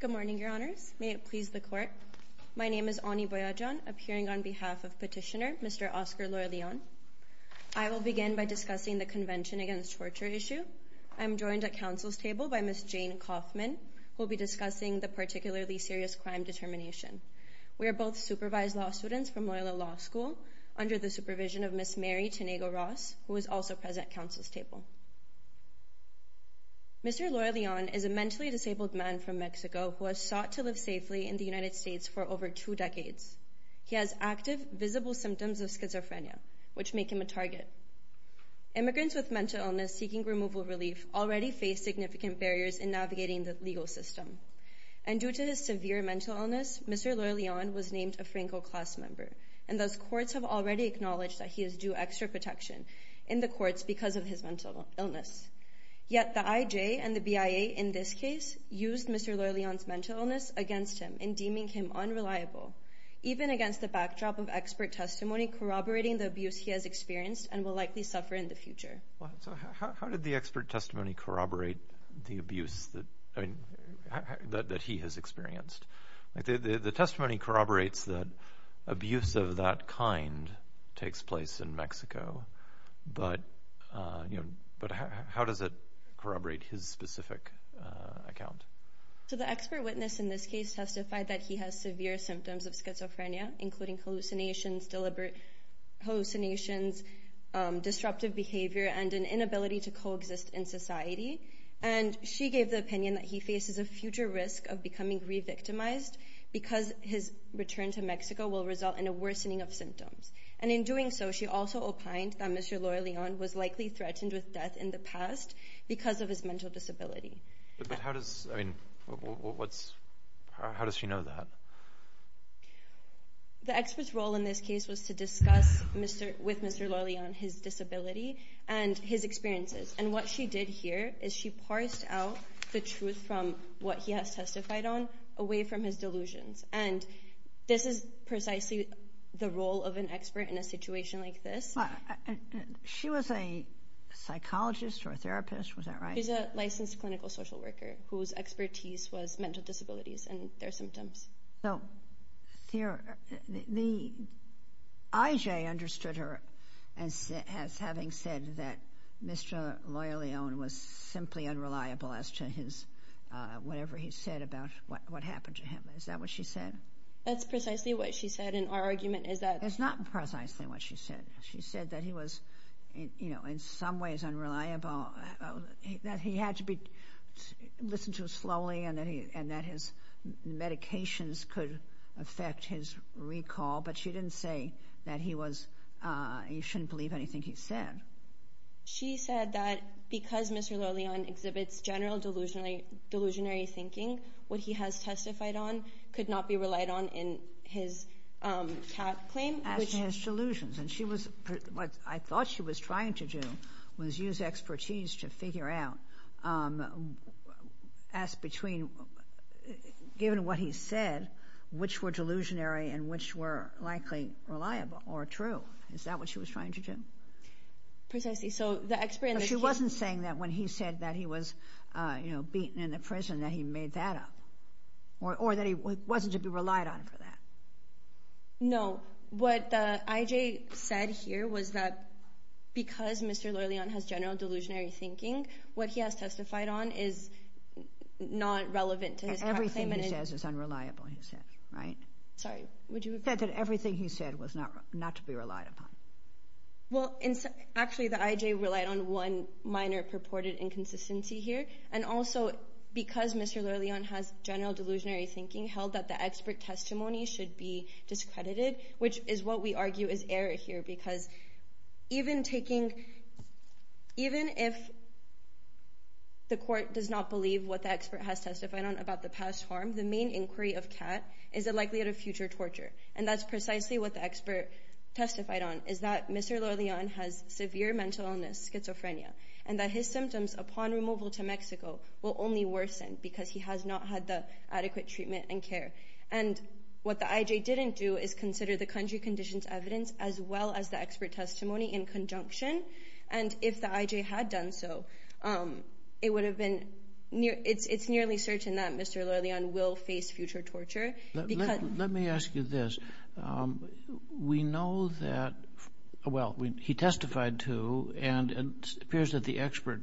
Good morning, Your Honours. May it please the Court. My name is Ani Boyajian, appearing on behalf of Petitioner, Mr. Oscar Loya-Leon. I will begin by discussing the Convention Against Torture issue. I am joined at Council's table by Ms. Jane Kaufman, who will be discussing the particularly serious crime determination. We are both supervised law students from Loyola Law School, under the supervision of Ms. Mary Tonego-Ross, who is also present at Council's table. Mr. Loya-Leon is a mentally disabled man from Mexico who has sought to live safely in the United States for over two decades. He has active, visible symptoms of schizophrenia, which make him a target. Immigrants with mental illness seeking removal relief already face significant barriers in navigating the legal system. And due to his severe mental illness, Mr. Loya-Leon was named a Franco class member, and those courts have already acknowledged that he is due extra protection in the courts because of his mental illness. Yet the IJ and the BIA in this case used Mr. Loya-Leon's mental illness against him in deeming him unreliable, even against the backdrop of expert testimony corroborating the abuse he has experienced and will likely suffer in the future. So how did the expert testimony corroborate the abuse that he has experienced? The testimony corroborates that abuse of that kind takes place in Mexico, but how does it corroborate his specific account? So the expert witness in this case testified that he has severe symptoms of schizophrenia, including hallucinations, disruptive behavior, and an inability to coexist in society. And she gave the opinion that he faces a future risk of becoming re-victimized because his return to Mexico will result in a worsening of symptoms. And in doing so, she also opined that Mr. Loya-Leon was likely threatened with death in the past because of his mental disability. But how does she know that? The expert's role in this case was to discuss with Mr. Loya-Leon his disability and his experiences. And what she did here is she parsed out the truth from what he has testified on away from his delusions. And this is precisely the role of an expert in a situation like this. She was a psychologist or a therapist, was that right? She's a licensed clinical social worker whose expertise was mental disabilities and their symptoms. So, the IJ understood her as having said that Mr. Loya-Leon was simply unreliable as to his, whatever he said about what happened to him. Is that what she said? That's precisely what she said. And our argument is that... It's not precisely what she said. She said that he was, you know, in some ways unreliable, that he had to be listened to slowly, and that his medications could affect his recall. But she didn't say that he was, he shouldn't believe anything he said. She said that because Mr. Loya-Leon exhibits general delusionary thinking, what he has testified on could not be relied on in his TAP claim, which... to figure out as between, given what he said, which were delusionary and which were likely reliable or true. Is that what she was trying to do? Precisely. So, the expert... She wasn't saying that when he said that he was, you know, beaten in the prison, that he made that up. Or that he wasn't to be relied on for that. No. What the IJ said here was that because Mr. Loya-Leon has general delusionary thinking, what he has testified on is not relevant to his TAP claim. Everything he says is unreliable, he said, right? Sorry, would you repeat? He said that everything he said was not to be relied upon. Well, actually, the IJ relied on one minor purported inconsistency here. And also, because Mr. Loya-Leon has general delusionary thinking, held that the expert testimony should be discredited, which is what we argue is error here, because even taking... Even if the court does not believe what the expert has testified on about the past harm, the main inquiry of CAT is the likelihood of future torture. And that's precisely what the expert testified on, is that Mr. Loya-Leon has severe mental illness, schizophrenia, and that his symptoms upon removal to Mexico will only worsen because he has not had the adequate treatment and care. And what the IJ didn't do is consider the country conditions evidence as well as the expert testimony in conjunction. And if the IJ had done so, it would have been... It's nearly certain that Mr. Loya-Leon will face future torture. Let me ask you this. We know that... Well, he testified too, and it appears that the expert,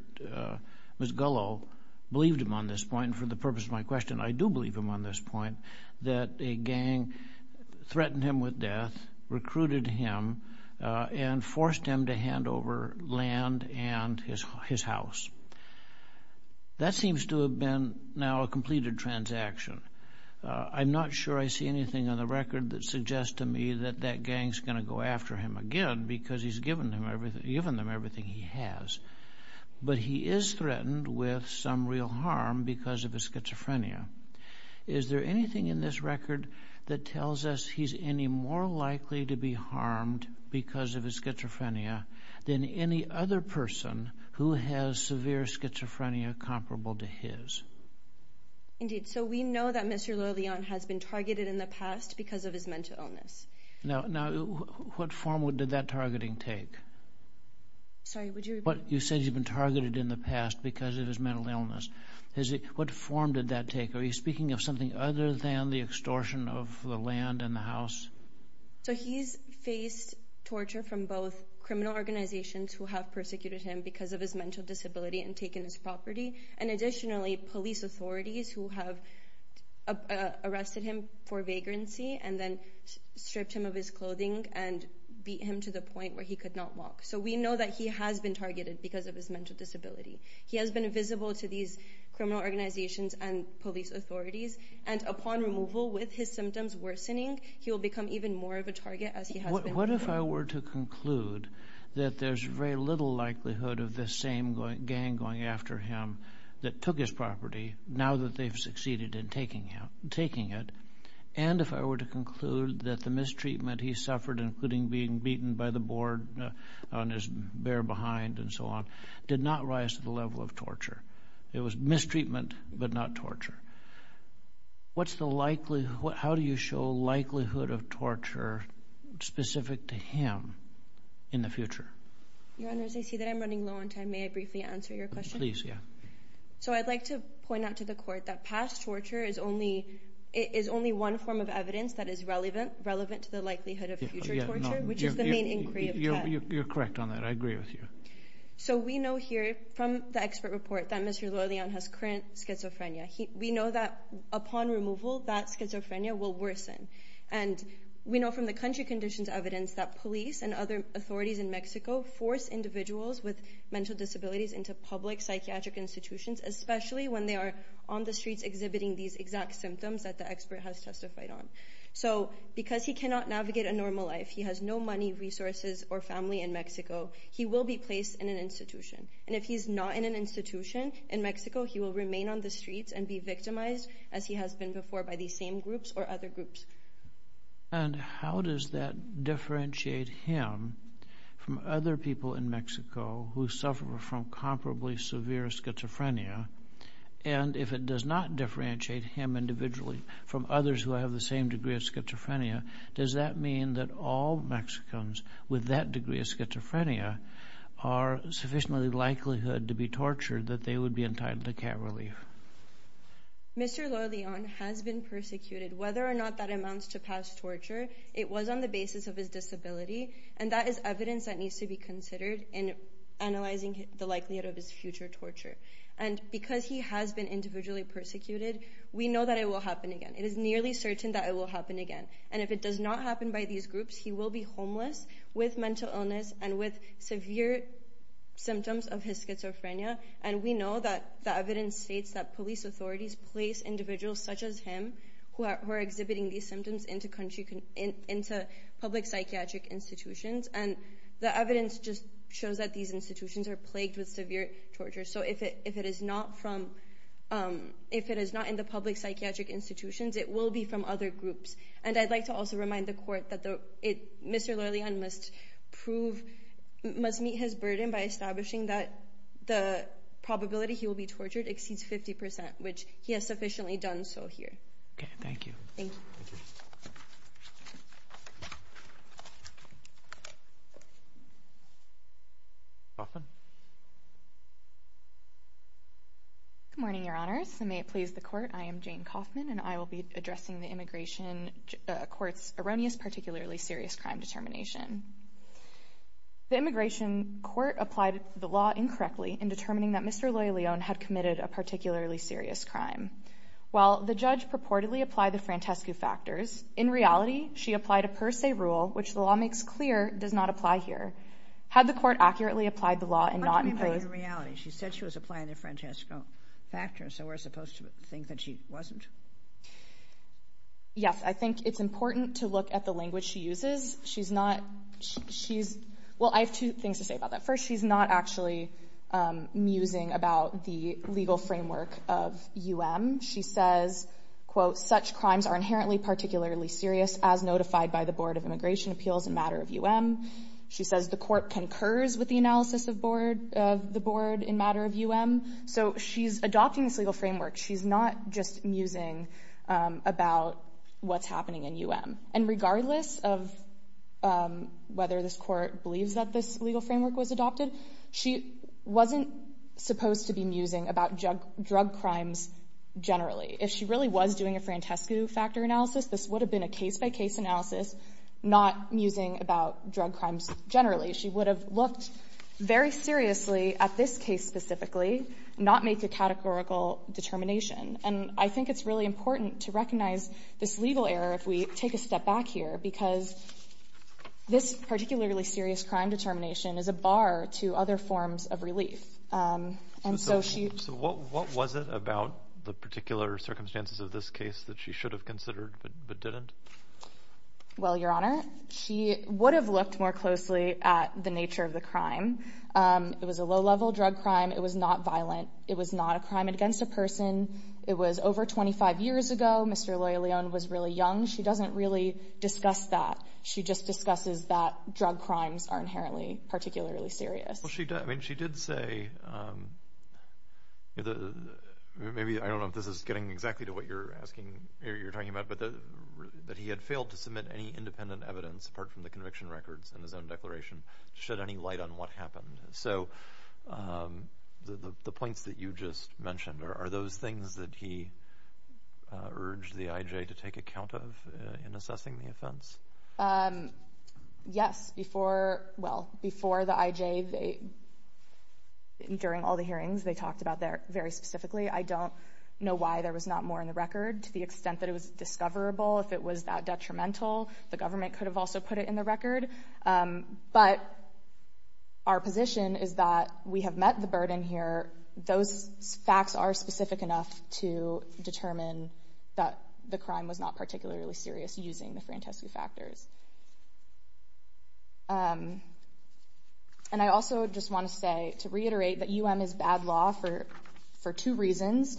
Ms. Gullo, believed him on this point, and for the purpose of my question, I do believe him on this point, that a gang threatened him with death, recruited him, and forced him to hand over land and his house. That seems to have been now a completed transaction. I'm not sure I see anything on the record that suggests to me that that gang's going to go after him again, because he's given them everything he has. But he is threatened with some real harm because of his schizophrenia. Is there anything in this record that tells us he's any more likely to be harmed because of his schizophrenia than any other person who has severe schizophrenia comparable to his? Indeed. So we know that Mr. Loya-Leon has been targeted in the past because of his mental illness. Now, what form did that targeting take? Sorry, would you repeat? You said he'd been targeted in the past because of his mental illness. What form did that take? Are you speaking of something other than the extortion of the land and the house? So he's faced torture from both criminal organizations who have targeted him because of his mental disability and taken his property, and additionally police authorities who have arrested him for vagrancy and then stripped him of his clothing and beat him to the point where he could not walk. So we know that he has been targeted because of his mental disability. He has been visible to these criminal organizations and police authorities, and upon removal, with his symptoms worsening, he will become even more of a target as he has been. What if I were to conclude that there's very little likelihood of this same gang going after him that took his property now that they've succeeded in taking it, and if I were to conclude that the mistreatment he suffered, including being beaten by the board on his bare behind and so on, did not rise to the level of torture? It was mistreatment but not torture. What's the likelihood, how do you show likelihood of torture specific to him in the future? Your Honor, as I see that I'm running low on time, may I briefly answer your question? Please, yeah. So I'd like to point out to the Court that past torture is only one form of evidence that is relevant to the likelihood of future torture, which is the main inquiry of the Court. You're correct on that, I agree with you. So we know here from the expert report that Mr. Leleon has current schizophrenia. We know that upon removal that schizophrenia will worsen. And we know from the country conditions evidence that police and other authorities in Mexico force individuals with mental disabilities into public psychiatric institutions, especially when they are on the streets exhibiting these exact symptoms that the expert has testified on. So because he cannot navigate a normal life, he has no money, resources, or family in Mexico, he will be placed in an institution. And if he's not in an institution in Mexico, he will remain on the streets and be victimized as he has been before by these same groups or other groups. And how does that differentiate him from other people in Mexico who suffer from comparably severe schizophrenia? And if it does not differentiate him individually from others who have the same degree of schizophrenia, does that mean that all Mexicans with that degree of schizophrenia are sufficiently likelihood to be tortured that they would be entitled to care relief? Mr. Leleon has been persecuted. Whether or not that amounts to past torture, it was on the basis of his disability, and that is evidence that needs to be considered in analyzing the likelihood of his future torture. And because he has been individually persecuted, we know that it will happen again. It is nearly certain that it will happen again. And if it does not happen by these groups, he will be homeless with mental illness and with severe symptoms of his schizophrenia. And we know that the evidence states that police authorities place individuals such as him who are exhibiting these symptoms into public psychiatric institutions. And the evidence just shows that these institutions are plagued with severe torture. So if it is not in the public psychiatric institutions, it will be from other groups. And I'd like to also remind the court that Mr. Leleon must prove, must meet his burden by establishing that the probability he will be tortured exceeds 50%, which he has sufficiently done so here. Okay, thank you. Thank you. Thank you. Coffman. Good morning, Your Honors, and may it please the Court, I am Jane Coffman, and I will be addressing the Immigration Court's erroneous particularly serious crime determination. The Immigration Court applied the law incorrectly in determining that Mr. Leleon had committed a particularly serious crime. While the judge purportedly applied the Francesco factors, in reality, she applied a per se rule, which the law makes clear does not apply here. Had the court accurately applied the law and not imposed... How can you say in reality? She said she was applying the Francesco factors, so we're supposed to think that she wasn't? Yes, I think it's important to look at the language she uses. She's not, she's, well, I have two things to say about that. First, she's not actually musing about the legal framework of U.M. She says, quote, such crimes are inherently particularly serious as notified by the Board of Immigration Appeals in matter of U.M. She says the court concurs with the analysis of board, of the board in matter of U.M. So she's adopting this legal framework. She's not just musing about what's happening in U.M. And regardless of whether this court believes that this legal framework was adopted, she wasn't supposed to be musing about drug crimes generally. If she really was doing a Francesco factor analysis, this would have been a case by case analysis, not musing about drug crimes generally. She would have looked very seriously at this case specifically, not make a categorical determination. And I think it's really important to recognize this legal error if we take a step back here because this particularly serious crime determination is a bar to other forms of relief. And so she So what, what was it about the particular circumstances of this case that she should have considered but didn't? Well, Your Honor, she would have looked more closely at the nature of the crime. It was a low-level drug crime. It was not violent. It was not a crime against a person. It was over 25 years ago. Mr. Loya Leon was really young. She doesn't really discuss that. She just discusses that drug crimes are inherently particularly serious. Well, she did. I mean, she did say, maybe I don't know if this is getting exactly to what you're asking or you're talking about, but that he had failed to submit any independent evidence apart from the conviction records and his own declaration to shed any light So the points that you just mentioned, are those things that he urged the IJ to take account of in assessing the offense? Yes. Before, well, before the IJ, during all the hearings, they talked about that very specifically. I don't know why there was not more in the record to the extent that it was discoverable. If it was that detrimental, the government could have also put it in the record. But our position is that we have met the burden here. Those facts are specific enough to determine that the crime was not particularly serious using the Frantescu factors. And I also just want to say, to reiterate, that UM is bad law for two reasons.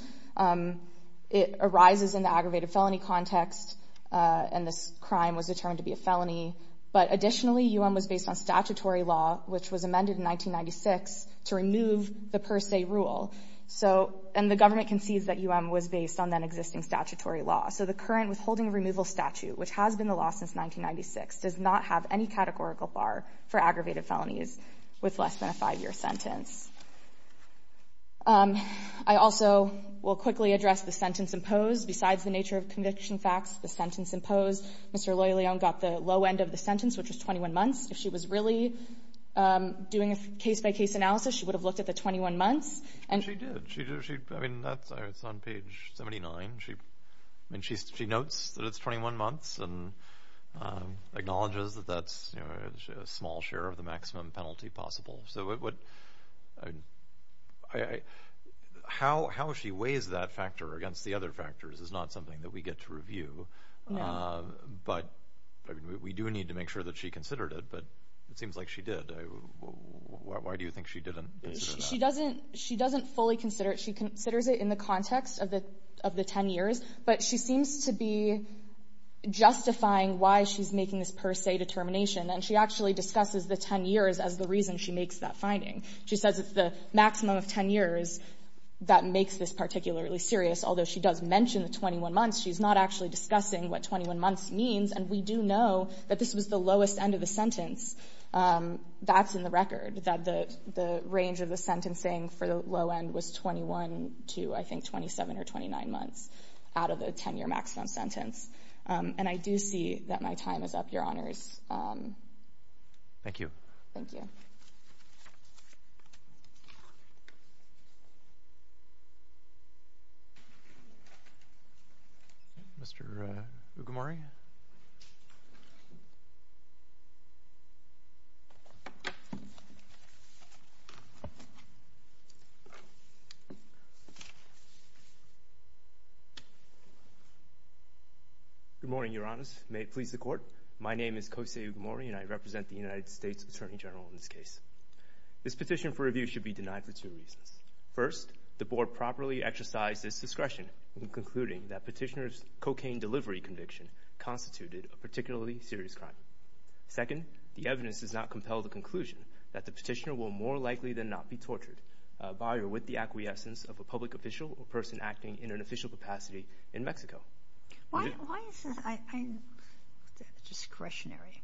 It arises in the aggravated felony context and this crime was determined to be a felony. But additionally, UM was based on statutory law, which was amended in 1996 to remove the per se rule. And the government concedes that UM was based on that existing statutory law. So the current withholding of removal statute, which has been the law since 1996, does not have any categorical bar for aggravated felonies with less than a five-year sentence. I also will quickly address the sentence imposed. Besides the nature of conviction facts, the sentence imposed, Mr. Loyolion got the low end of the sentence, which was 21 months. If she was really doing a case-by-case analysis, she would have looked at the 21 months. She did. I mean, that's on page 79. She notes that it's 21 months and acknowledges that that's a small share of the maximum penalty possible. So how she weighs that factor against the other factors is not something that we get to review. But we do need to make sure that she considered it, but it seems like she did. Why do you think she didn't consider that? She doesn't fully consider it. She considers it in the context of the 10 years, but she seems to be justifying why she's making this per se determination. And she actually discusses the 10 years as the reason she makes that finding. She says it's the maximum of 10 years that makes this particularly serious. Although she does mention the 21 months, she's not actually discussing what 21 months means. And we do know that this was the lowest end of the sentence. That's in the record, that the range of the sentencing for the low end was 21 to, I think, 27 or 29 months out of the 10-year maximum sentence. And I do see that my time is up, Your Honors. Thank you. Thank you. Mr. Ugamori. Good morning, Your Honors. May it please the Court. My name is Kosei Ugamori, and I This petition for review should be denied for two reasons. First, the Board properly exercised its discretion in concluding that Petitioner's cocaine delivery conviction constituted a particularly serious crime. Second, the evidence does not compel the conclusion that the Petitioner will more likely than not be tortured by or with the acquiescence of a public official or person acting in an official capacity in Mexico. Why is this discretionary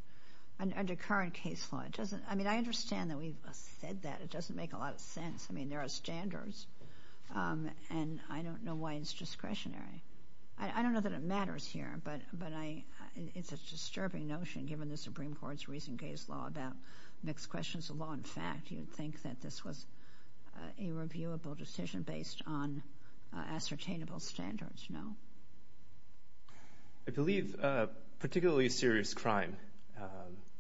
under current case law? I mean, I understand that we've said that. It doesn't make a lot of sense. I mean, there are standards, and I don't know why it's discretionary. I don't know that it matters here, but it's a disturbing notion given the Supreme Court's recent case law about mixed questions of law and fact. You'd think that this was a reviewable decision based on ascertainable standards, no? I believe particularly serious crime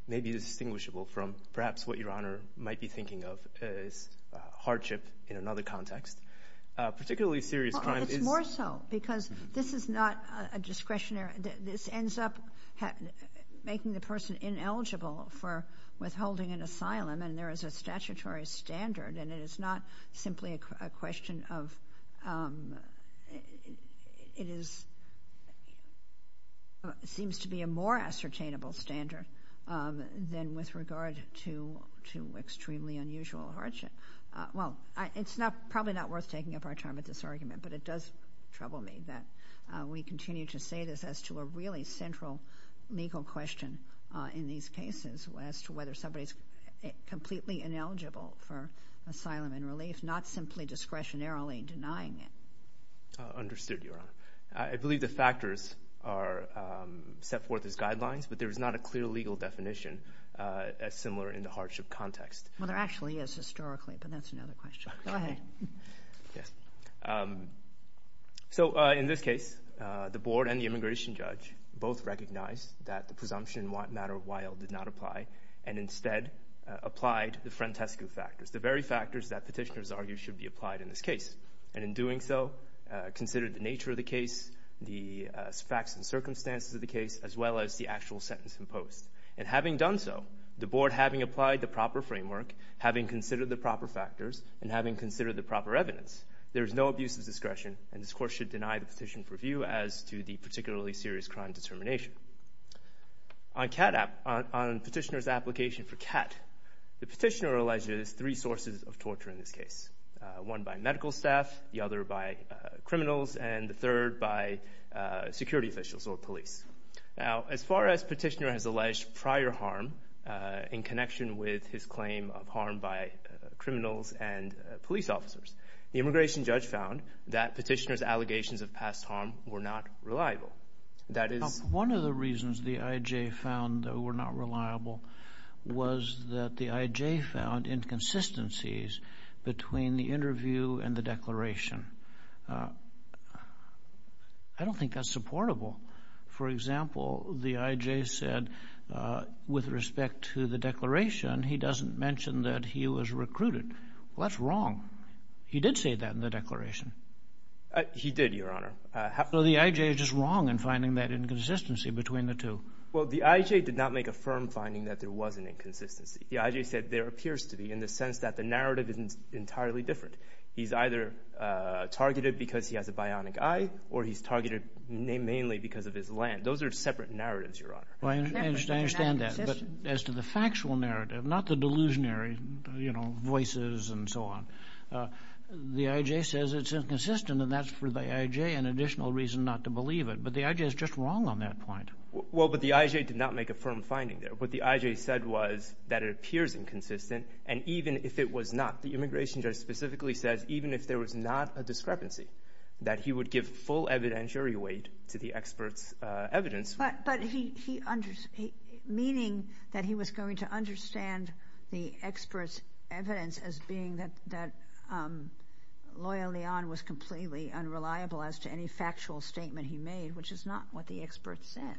may be distinguishable from perhaps what Your Honor might be thinking of as hardship in another context. Particularly serious crime is... It's more so, because this is not a discretionary. This ends up making the person ineligible for withholding an asylum, and there is a it is... Seems to be a more ascertainable standard than with regard to extremely unusual hardship. Well, it's probably not worth taking up our time with this argument, but it does trouble me that we continue to say this as to a really central legal question in these cases as to whether somebody's completely ineligible for asylum and relief, not simply discretionarily denying it. Understood, Your Honor. I believe the factors are set forth as guidelines, but there is not a clear legal definition as similar in the hardship context. Well, there actually is historically, but that's another question. Go ahead. Okay. Yes. So, in this case, the Board and the immigration judge both recognized that the presumption matter while did not apply, and instead applied the case. And in doing so, considered the nature of the case, the facts and circumstances of the case, as well as the actual sentence imposed. And having done so, the Board, having applied the proper framework, having considered the proper factors, and having considered the proper evidence, there is no abuse of discretion, and this Court should deny the petition for review as to the particularly serious crime determination. On Petitioner's application for CAT, the Petitioner alleges three sources of torture in this case, one by medical staff, the other by criminals, and the third by security officials or police. Now, as far as Petitioner has alleged prior harm in connection with his claim of harm by criminals and police officers, the immigration judge found that Petitioner's allegations of past harm were not reliable. That is... One of the reasons the I.J. found they were not reliable was that the I.J. found inconsistencies between the interview and the declaration. I don't think that's supportable. For example, the I.J. said, with respect to the declaration, he doesn't mention that he was recruited. Well, that's wrong. He did say that in the declaration. He did, Your Honor. So the I.J. is just wrong in finding that inconsistency between the two. Well, the I.J. did not make a firm finding that there was an inconsistency. The I.J. said there appears to be, in the sense that the narrative isn't entirely different. He's either targeted because he has a bionic eye, or he's targeted mainly because of his land. Those are separate narratives, Your Honor. I understand that, but as to the factual narrative, not the delusionary, you know, voices and so on, the I.J. says it's inconsistent, and that's for the I.J. an additional reason not to believe it. But the I.J. is just wrong on that point. Well, but the I.J. did not make a firm finding there. What the I.J. said was that it appears inconsistent, and even if it was not, the immigration judge specifically says, even if there was not a discrepancy, that he would give full evidentiary weight to the expert's evidence. But he, meaning that he was going to understand the expert's evidence as being that Loyal Leon was completely unreliable as to any factual statement he made, which is not what the expert said.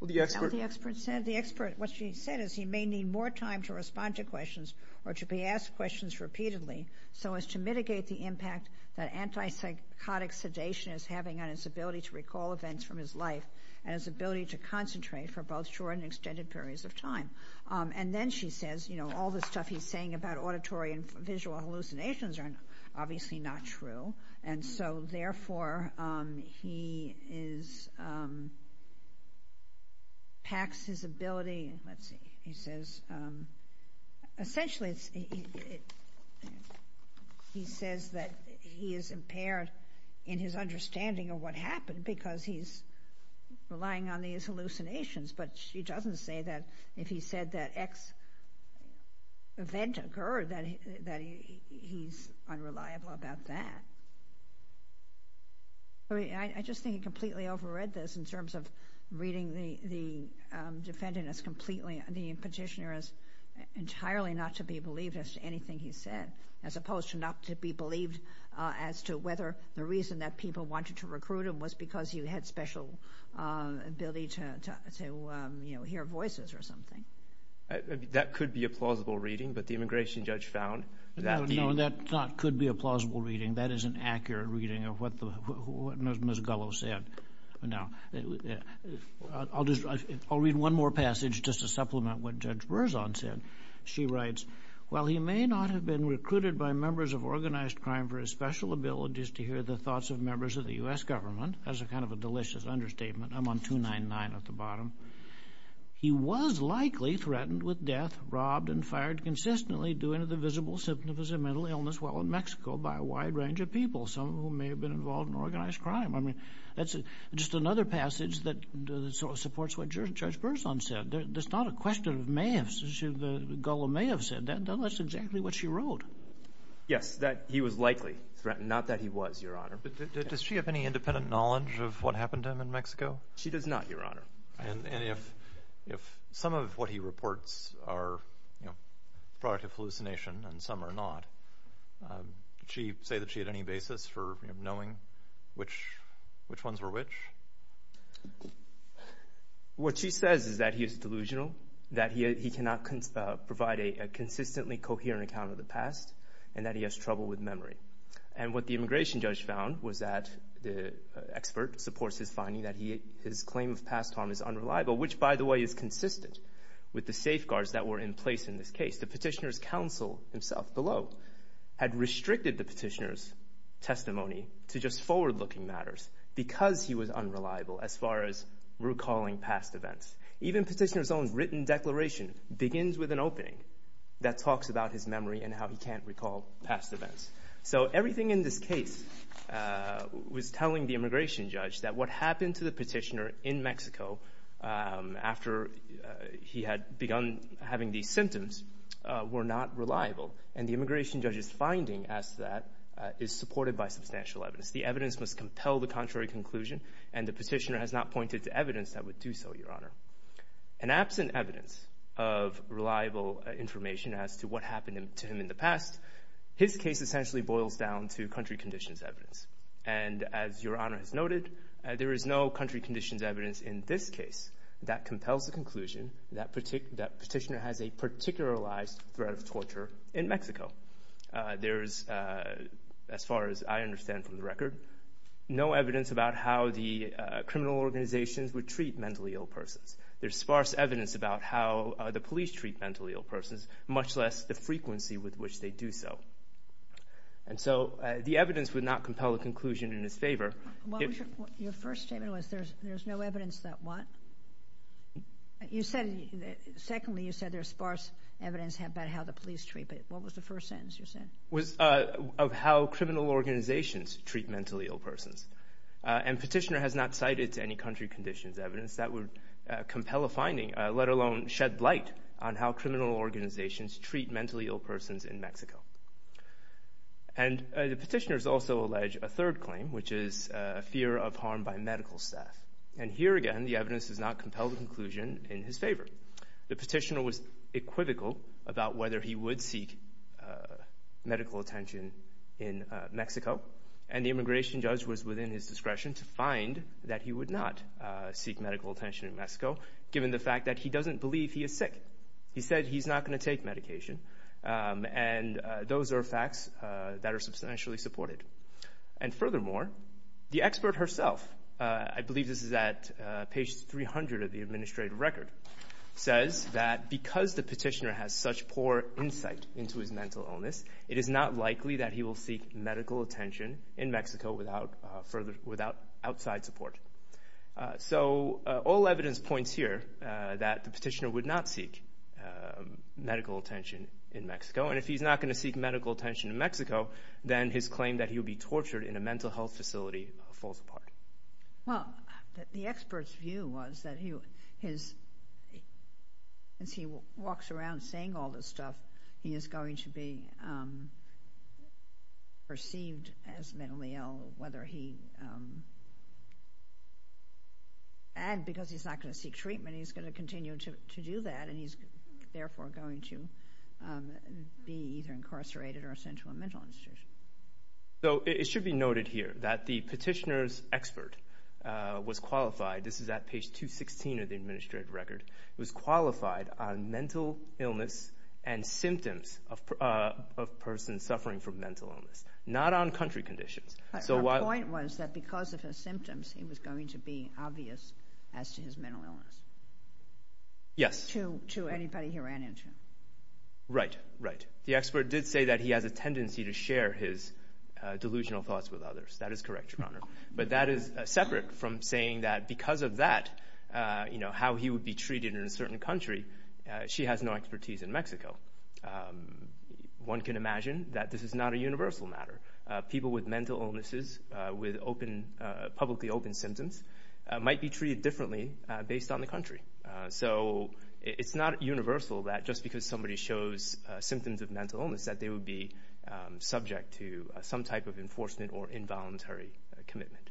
Well, the expert Not what the expert said. The expert, what she said is he may need more time to respond to questions or to be asked questions repeatedly so as to mitigate the impact that antipsychotic sedation is having on his ability to recall events from his life and his ability to concentrate for both short and extended periods of time. And then she says, you know, all the stuff he's saying about auditory and visual hallucinations are obviously not true, and so therefore he is, packs his ability, let's see, he says, essentially, he says that he is impaired in his understanding of what happened because he's relying on these hallucinations. But she doesn't say that if he said that X event occurred, that he's unreliable about that. I mean, I just think he completely overread this in terms of reading the defendant as entirely not to be believed as to anything he said, as opposed to not to be believed as to whether the reason that people wanted to recruit him was because he had special ability to, you know, hear voices or something. That could be a plausible reading, but the immigration judge found that the No, no, that could be a plausible reading. That is an accurate reading of what Ms. Gullo said. I'll read one more passage just to supplement what Judge Berzon said. She writes, while he may not have been recruited by members of organized crime for his special abilities to hear the thoughts of members of the U.S. government, as a kind of a delicious understatement, I'm on 299 at the bottom, he was likely threatened with death, robbed and fired consistently due to the visible symptom of his mental illness while in Mexico by a wide range of people, some of whom may have been involved in organized crime. I mean, that's just another passage that supports what Judge Berzon said. There's not a question of may have, as Gullo may have said. That's exactly what she wrote. Yes, that he was likely threatened, not that he was, Your Honor. Does she have any independent knowledge of what happened to him in Mexico? She does not, Your Honor. And if some of what he reports are, you know, a product of hallucination and some are not, did she say that she had any basis for knowing which ones were which? What she says is that he is delusional, that he cannot provide a consistently coherent account of the past, and that he has trouble with memory. And what the immigration judge found was that the expert supports his finding that his claim of past harm is unreliable, which, by the way, is consistent with the safeguards that were in place in this case. The petitioner's counsel himself below had restricted the petitioner's testimony to just forward-looking matters because he was unreliable as far as recalling past events. Even petitioner's own written declaration begins with an opening that talks about his memory and how he can't recall past events. So everything in this case was telling the immigration judge that what happened to the petitioner in Mexico after he had begun having these symptoms were not reliable. And the immigration judge's finding as to that is supported by substantial evidence. The evidence must compel the contrary conclusion, and the petitioner has not pointed to evidence that would do so, Your Honor. And absent evidence of reliable information as to what happened to him in the past, his case essentially boils down to country conditions evidence. And as Your Honor has noted, there is no country conditions evidence in this case that compels the conclusion that petitioner has a particularized threat of torture in Mexico. There is, as far as I understand from the record, no evidence about how the criminal organizations would treat mentally ill persons. There's sparse evidence about how the police treat mentally ill persons, much less the frequency with which they do so. And so the evidence would not compel the conclusion in his favor. Your first statement was there's no evidence that what? Secondly, you said there's sparse evidence about how the police treat, but what was the first sentence you said? It was of how criminal organizations treat mentally ill persons. And petitioner has not cited any country conditions evidence that would compel a finding, let alone shed light on how criminal organizations treat mentally ill persons in Mexico. And the petitioners also allege a third claim, which is fear of harm by medical staff. And here again, the evidence does not compel the conclusion in his favor. The petitioner was equivocal about whether he would seek medical attention in Mexico, and the immigration judge was within his discretion to find that he would not seek medical attention in Mexico, given the fact that he doesn't believe he is sick. He said he's not going to take medication, and those are facts that are substantially supported. And furthermore, the expert herself, I believe this is at page 300 of the administrative record, says that because the petitioner has such poor insight into his mental illness, it is not likely that he will seek medical attention in Mexico without outside support. So all evidence points here that the petitioner would not seek medical attention in Mexico, and if he's not going to seek medical attention in Mexico, then his claim that he would be tortured in a mental health facility falls apart. Well, the expert's view was that as he walks around saying all this stuff, he is going to be perceived as mentally ill, and because he's not going to seek treatment, he's going to continue to do that, and he's therefore going to be either incarcerated or sent to a mental institution. So it should be noted here that the petitioner's expert was qualified. This is at page 216 of the administrative record. It was qualified on mental illness and symptoms of a person suffering from mental illness, not on country conditions. But her point was that because of his symptoms, he was going to be obvious as to his mental illness. Yes. To anybody he ran into. Right, right. The expert did say that he has a tendency to share his delusional thoughts with others. That is correct, Your Honor. But that is separate from saying that because of that, you know, how he would be treated in a certain country, she has no expertise in Mexico. One can imagine that this is not a universal matter. People with mental illnesses with publicly open symptoms might be treated differently based on the country. So it's not universal that just because somebody shows symptoms of mental illness that they would be subject to some type of enforcement or involuntary commitment.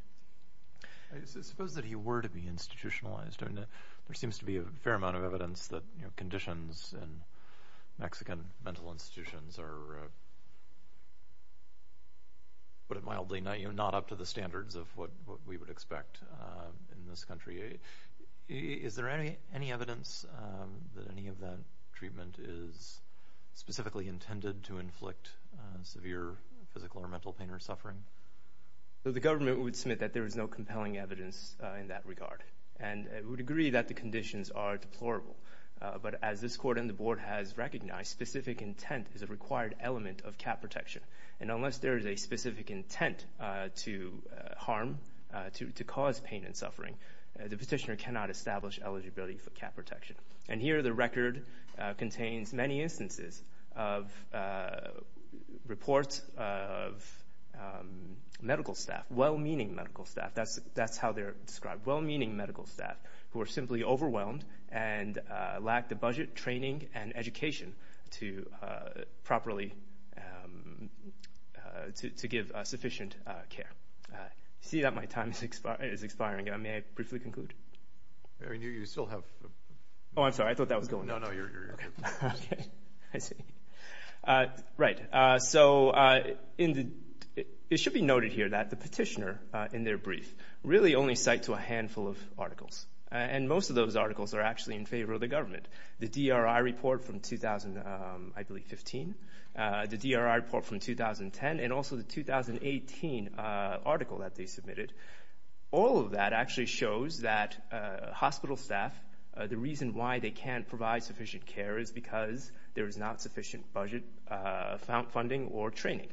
I suppose that he were to be institutionalized. There seems to be a fair amount of evidence that conditions in Mexican mental institutions are, put it mildly, not up to the standards of what we would expect in this country. Is there any evidence that any of that treatment is specifically intended to inflict severe physical or mental pain or suffering? The government would submit that there is no compelling evidence in that regard. And we would agree that the conditions are deplorable. But as this Court and the Board has recognized, specific intent is a required element of CAP protection. And unless there is a specific intent to harm, to cause pain and suffering, the petitioner cannot establish eligibility for CAP protection. And here the record contains many instances of reports of medical staff, well-meaning medical staff, that's how they're described, well-meaning medical staff, who are simply overwhelmed and lack the budget, training, and education to give sufficient care. I see that my time is expiring. May I briefly conclude? You still have... Oh, I'm sorry. I thought that was going. No, no, you're good. Okay. I see. Right. So it should be noted here that the petitioner, in their brief, really only cite to a handful of articles. And most of those articles are actually in favor of the government. The DRI report from, I believe, 2015, the DRI report from 2010, and also the 2018 article that they submitted, all of that actually shows that hospital staff, the reason why they can't provide sufficient care is because there is not sufficient budget funding or training.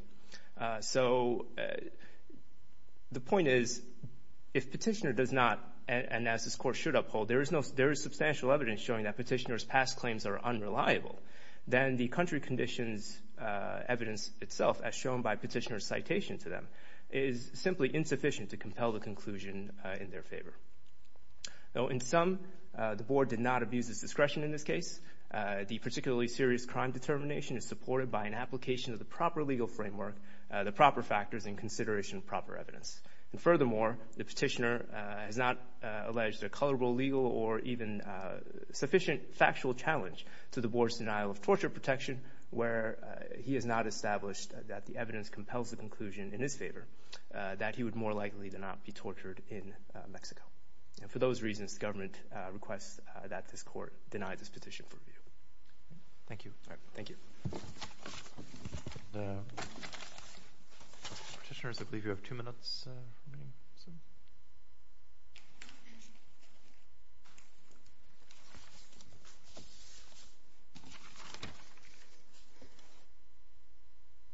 So the point is, if petitioner does not, and as this Court should uphold, there is substantial evidence showing that petitioner's past claims are unreliable, then the country conditions evidence itself, as shown by petitioner's citation to them, is simply insufficient to compel the conclusion in their favor. Now, in sum, the Board did not abuse its discretion in this case. The particularly serious crime determination is supported by an application of the proper legal framework, the proper factors, and consideration of proper evidence. And furthermore, the petitioner has not alleged a colorable, legal, or even sufficient factual challenge to the Board's denial of torture protection, where he has not established that the evidence compels the conclusion in his favor, that he would more likely than not be tortured in Mexico. And for those reasons, the government requests that this Court deny this petition for review. Thank you. Thank you. Petitioners, I believe you have two minutes remaining.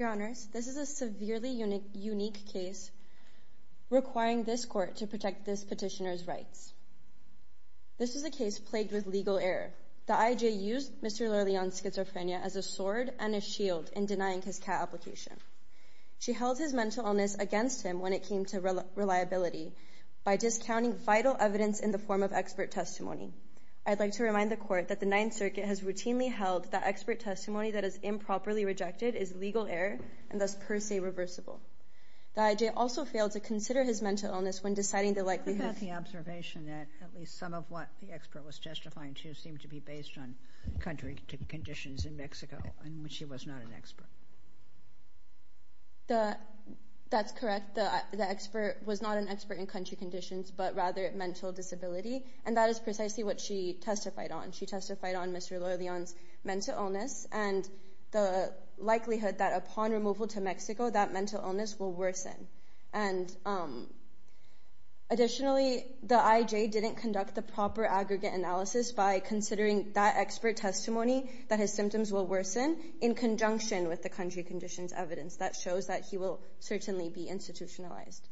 Your Honor, this is a severely unique case requiring this Court to protect this petitioner's rights. This is a case plagued with legal error. The IJ used Mr. Lerleon's schizophrenia as a sword and a shield in denying his CAT application. She held his mental illness against him when it came to reliability by discounting vital evidence in the form of expert testimony. I'd like to remind the Court that the Ninth Circuit has routinely held that expert testimony that is improperly rejected is legal error and thus per se reversible. The IJ also failed to consider his mental illness when deciding the likelihood of We have the observation that at least some of what the expert was justifying seemed to be based on country conditions in Mexico in which he was not an expert. That's correct. The expert was not an expert in country conditions but rather mental disability, and that is precisely what she testified on. She testified on Mr. Lerleon's mental illness and the likelihood that upon removal to Mexico, that mental illness will worsen. Additionally, the IJ didn't conduct the proper aggregate analysis by considering that expert testimony that his symptoms will worsen in conjunction with the country conditions evidence that shows that he will certainly be institutionalized.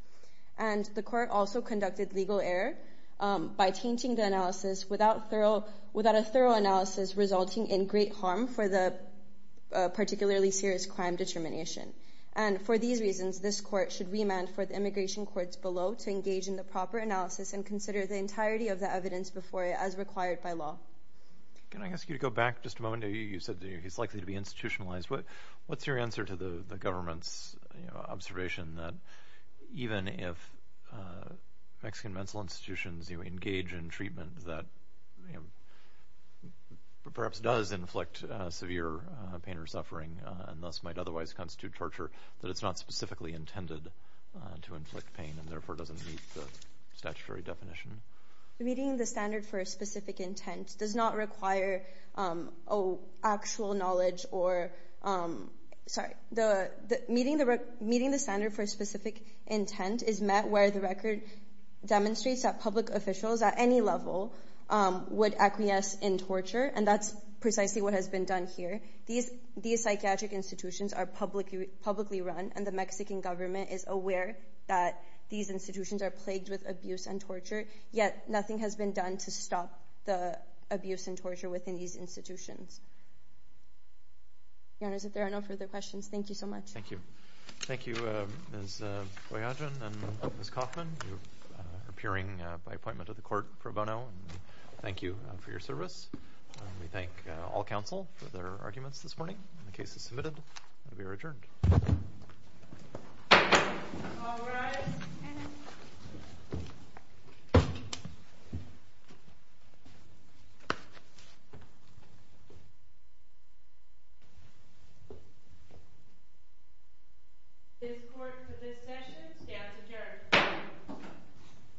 The Court also conducted legal error by tainting the analysis without a thorough analysis resulting in great harm for the particularly serious crime determination. And for these reasons, this Court should remand for the immigration courts below to engage in the proper analysis and consider the entirety of the evidence before it as required by law. Can I ask you to go back just a moment? You said he's likely to be institutionalized. What's your answer to the government's observation that even if Mexican mental institutions constitute torture, that it's not specifically intended to inflict pain and therefore doesn't meet the statutory definition? Meeting the standard for a specific intent does not require actual knowledge. Meeting the standard for a specific intent is met where the record demonstrates that public officials at any level would acquiesce in torture, and that's precisely what has been done here. These psychiatric institutions are publicly run, and the Mexican government is aware that these institutions are plagued with abuse and torture, yet nothing has been done to stop the abuse and torture within these institutions. Your Honors, if there are no further questions, thank you so much. Thank you. Thank you, Ms. Boyajian and Ms. Kaufman. You're appearing by appointment of the Court pro bono. Thank you for your service. We thank all counsel for their arguments this morning. The case is submitted, and we are adjourned. All rise. This Court for this session stands adjourned.